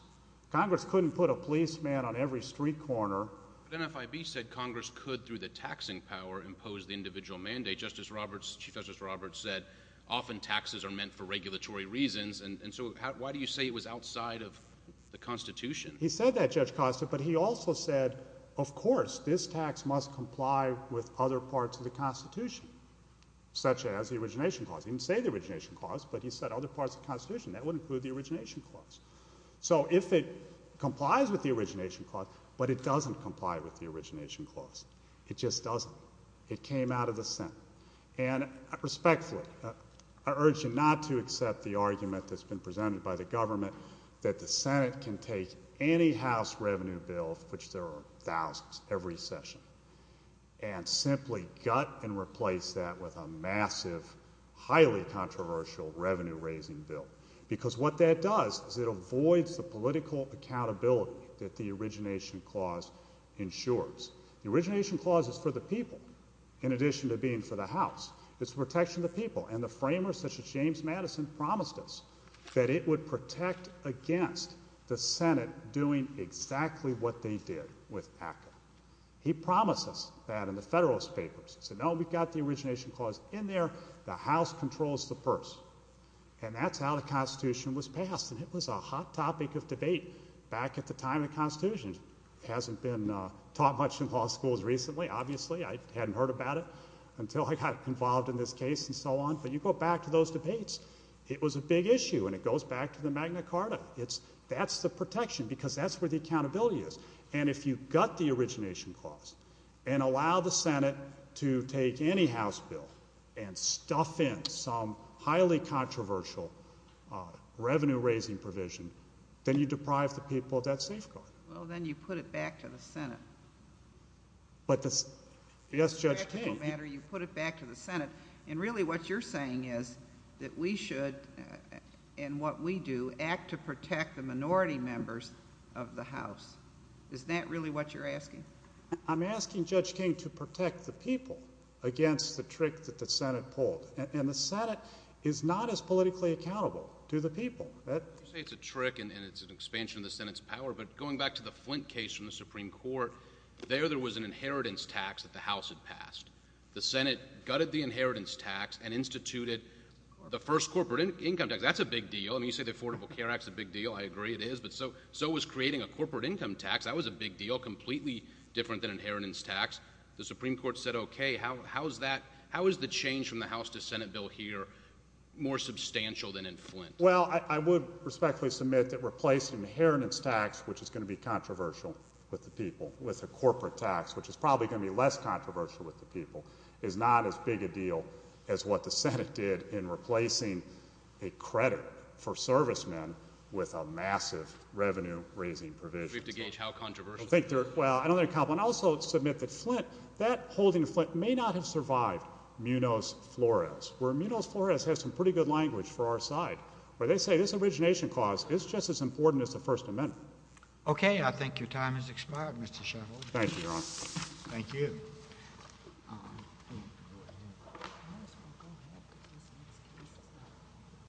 Congress couldn't put a policeman on every street corner. But NFIB said Congress could, through the taxing power, impose the individual mandate. Justice Roberts, Chief Justice Roberts said often taxes are meant for regulatory reasons. And so why do you say it was outside of the Constitution? He said that, Judge Costa, but he also said, of course, this tax must comply with other parts of the Constitution, such as the origination clause. He didn't say the origination clause, but he said other parts of the Constitution. That would include the origination clause. So if it complies with the origination clause, but it doesn't comply with the origination clause. It just doesn't. It came out of the Senate. And respectfully, I urge you not to accept the argument that's been presented by the government that the Senate can take any House revenue bill, of which there are thousands, every session, and simply gut and replace that with a massive, highly controversial revenue-raising bill. Because what that does is it avoids the political accountability that the origination clause ensures. The origination clause is for the people, in addition to being for the House. It's protection of the people. And the framers, such as James Madison, promised us that it would protect against the Senate doing exactly what they did with ACCA. He promised us that in the Federalist Papers. He said, no, we've got the origination clause in there. The House controls the purse. And that's how the Constitution was passed. It hasn't been taught much in law schools recently, obviously. I hadn't heard about it until I got involved in this case and so on. But you go back to those debates, it was a big issue. And it goes back to the Magna Carta. That's the protection, because that's where the accountability is. And if you gut the origination clause and allow the Senate to take any House bill and stuff in some highly controversial revenue-raising provision, then you deprive the people of that safeguard. Well, then you put it back to the Senate. But the—yes, Judge King. And really what you're saying is that we should, in what we do, act to protect the minority members of the House. Is that really what you're asking? I'm asking Judge King to protect the people against the trick that the Senate pulled. And the Senate is not as politically accountable to the people. You say it's a trick and it's an expansion of the Senate's power. But going back to the Flint case from the Supreme Court, there there was an inheritance tax that the House had passed. The Senate gutted the inheritance tax and instituted the first corporate income tax. That's a big deal. I mean, you say the Affordable Care Act's a big deal. I agree it is. But so was creating a corporate income tax. That was a big deal, completely different than inheritance tax. The Supreme Court said, OK, how is that—how is the change from the House to Senate bill here more substantial than in Flint? Well, I would respectfully submit that replacing the inheritance tax, which is going to be controversial with the people, with a corporate tax, which is probably going to be less controversial with the people, is not as big a deal as what the Senate did in replacing a credit for servicemen with a massive revenue-raising provision. We have to gauge how controversial. Well, I don't think—and I also submit that Flint, that holding of Flint may not have survived Munoz-Flores, where Munoz-Flores has some pretty good language for our side, where they say this origination clause is just as important as the First Amendment. OK, I think your time has expired, Mr. Sheffield. Thank you, Your Honor. Thank you.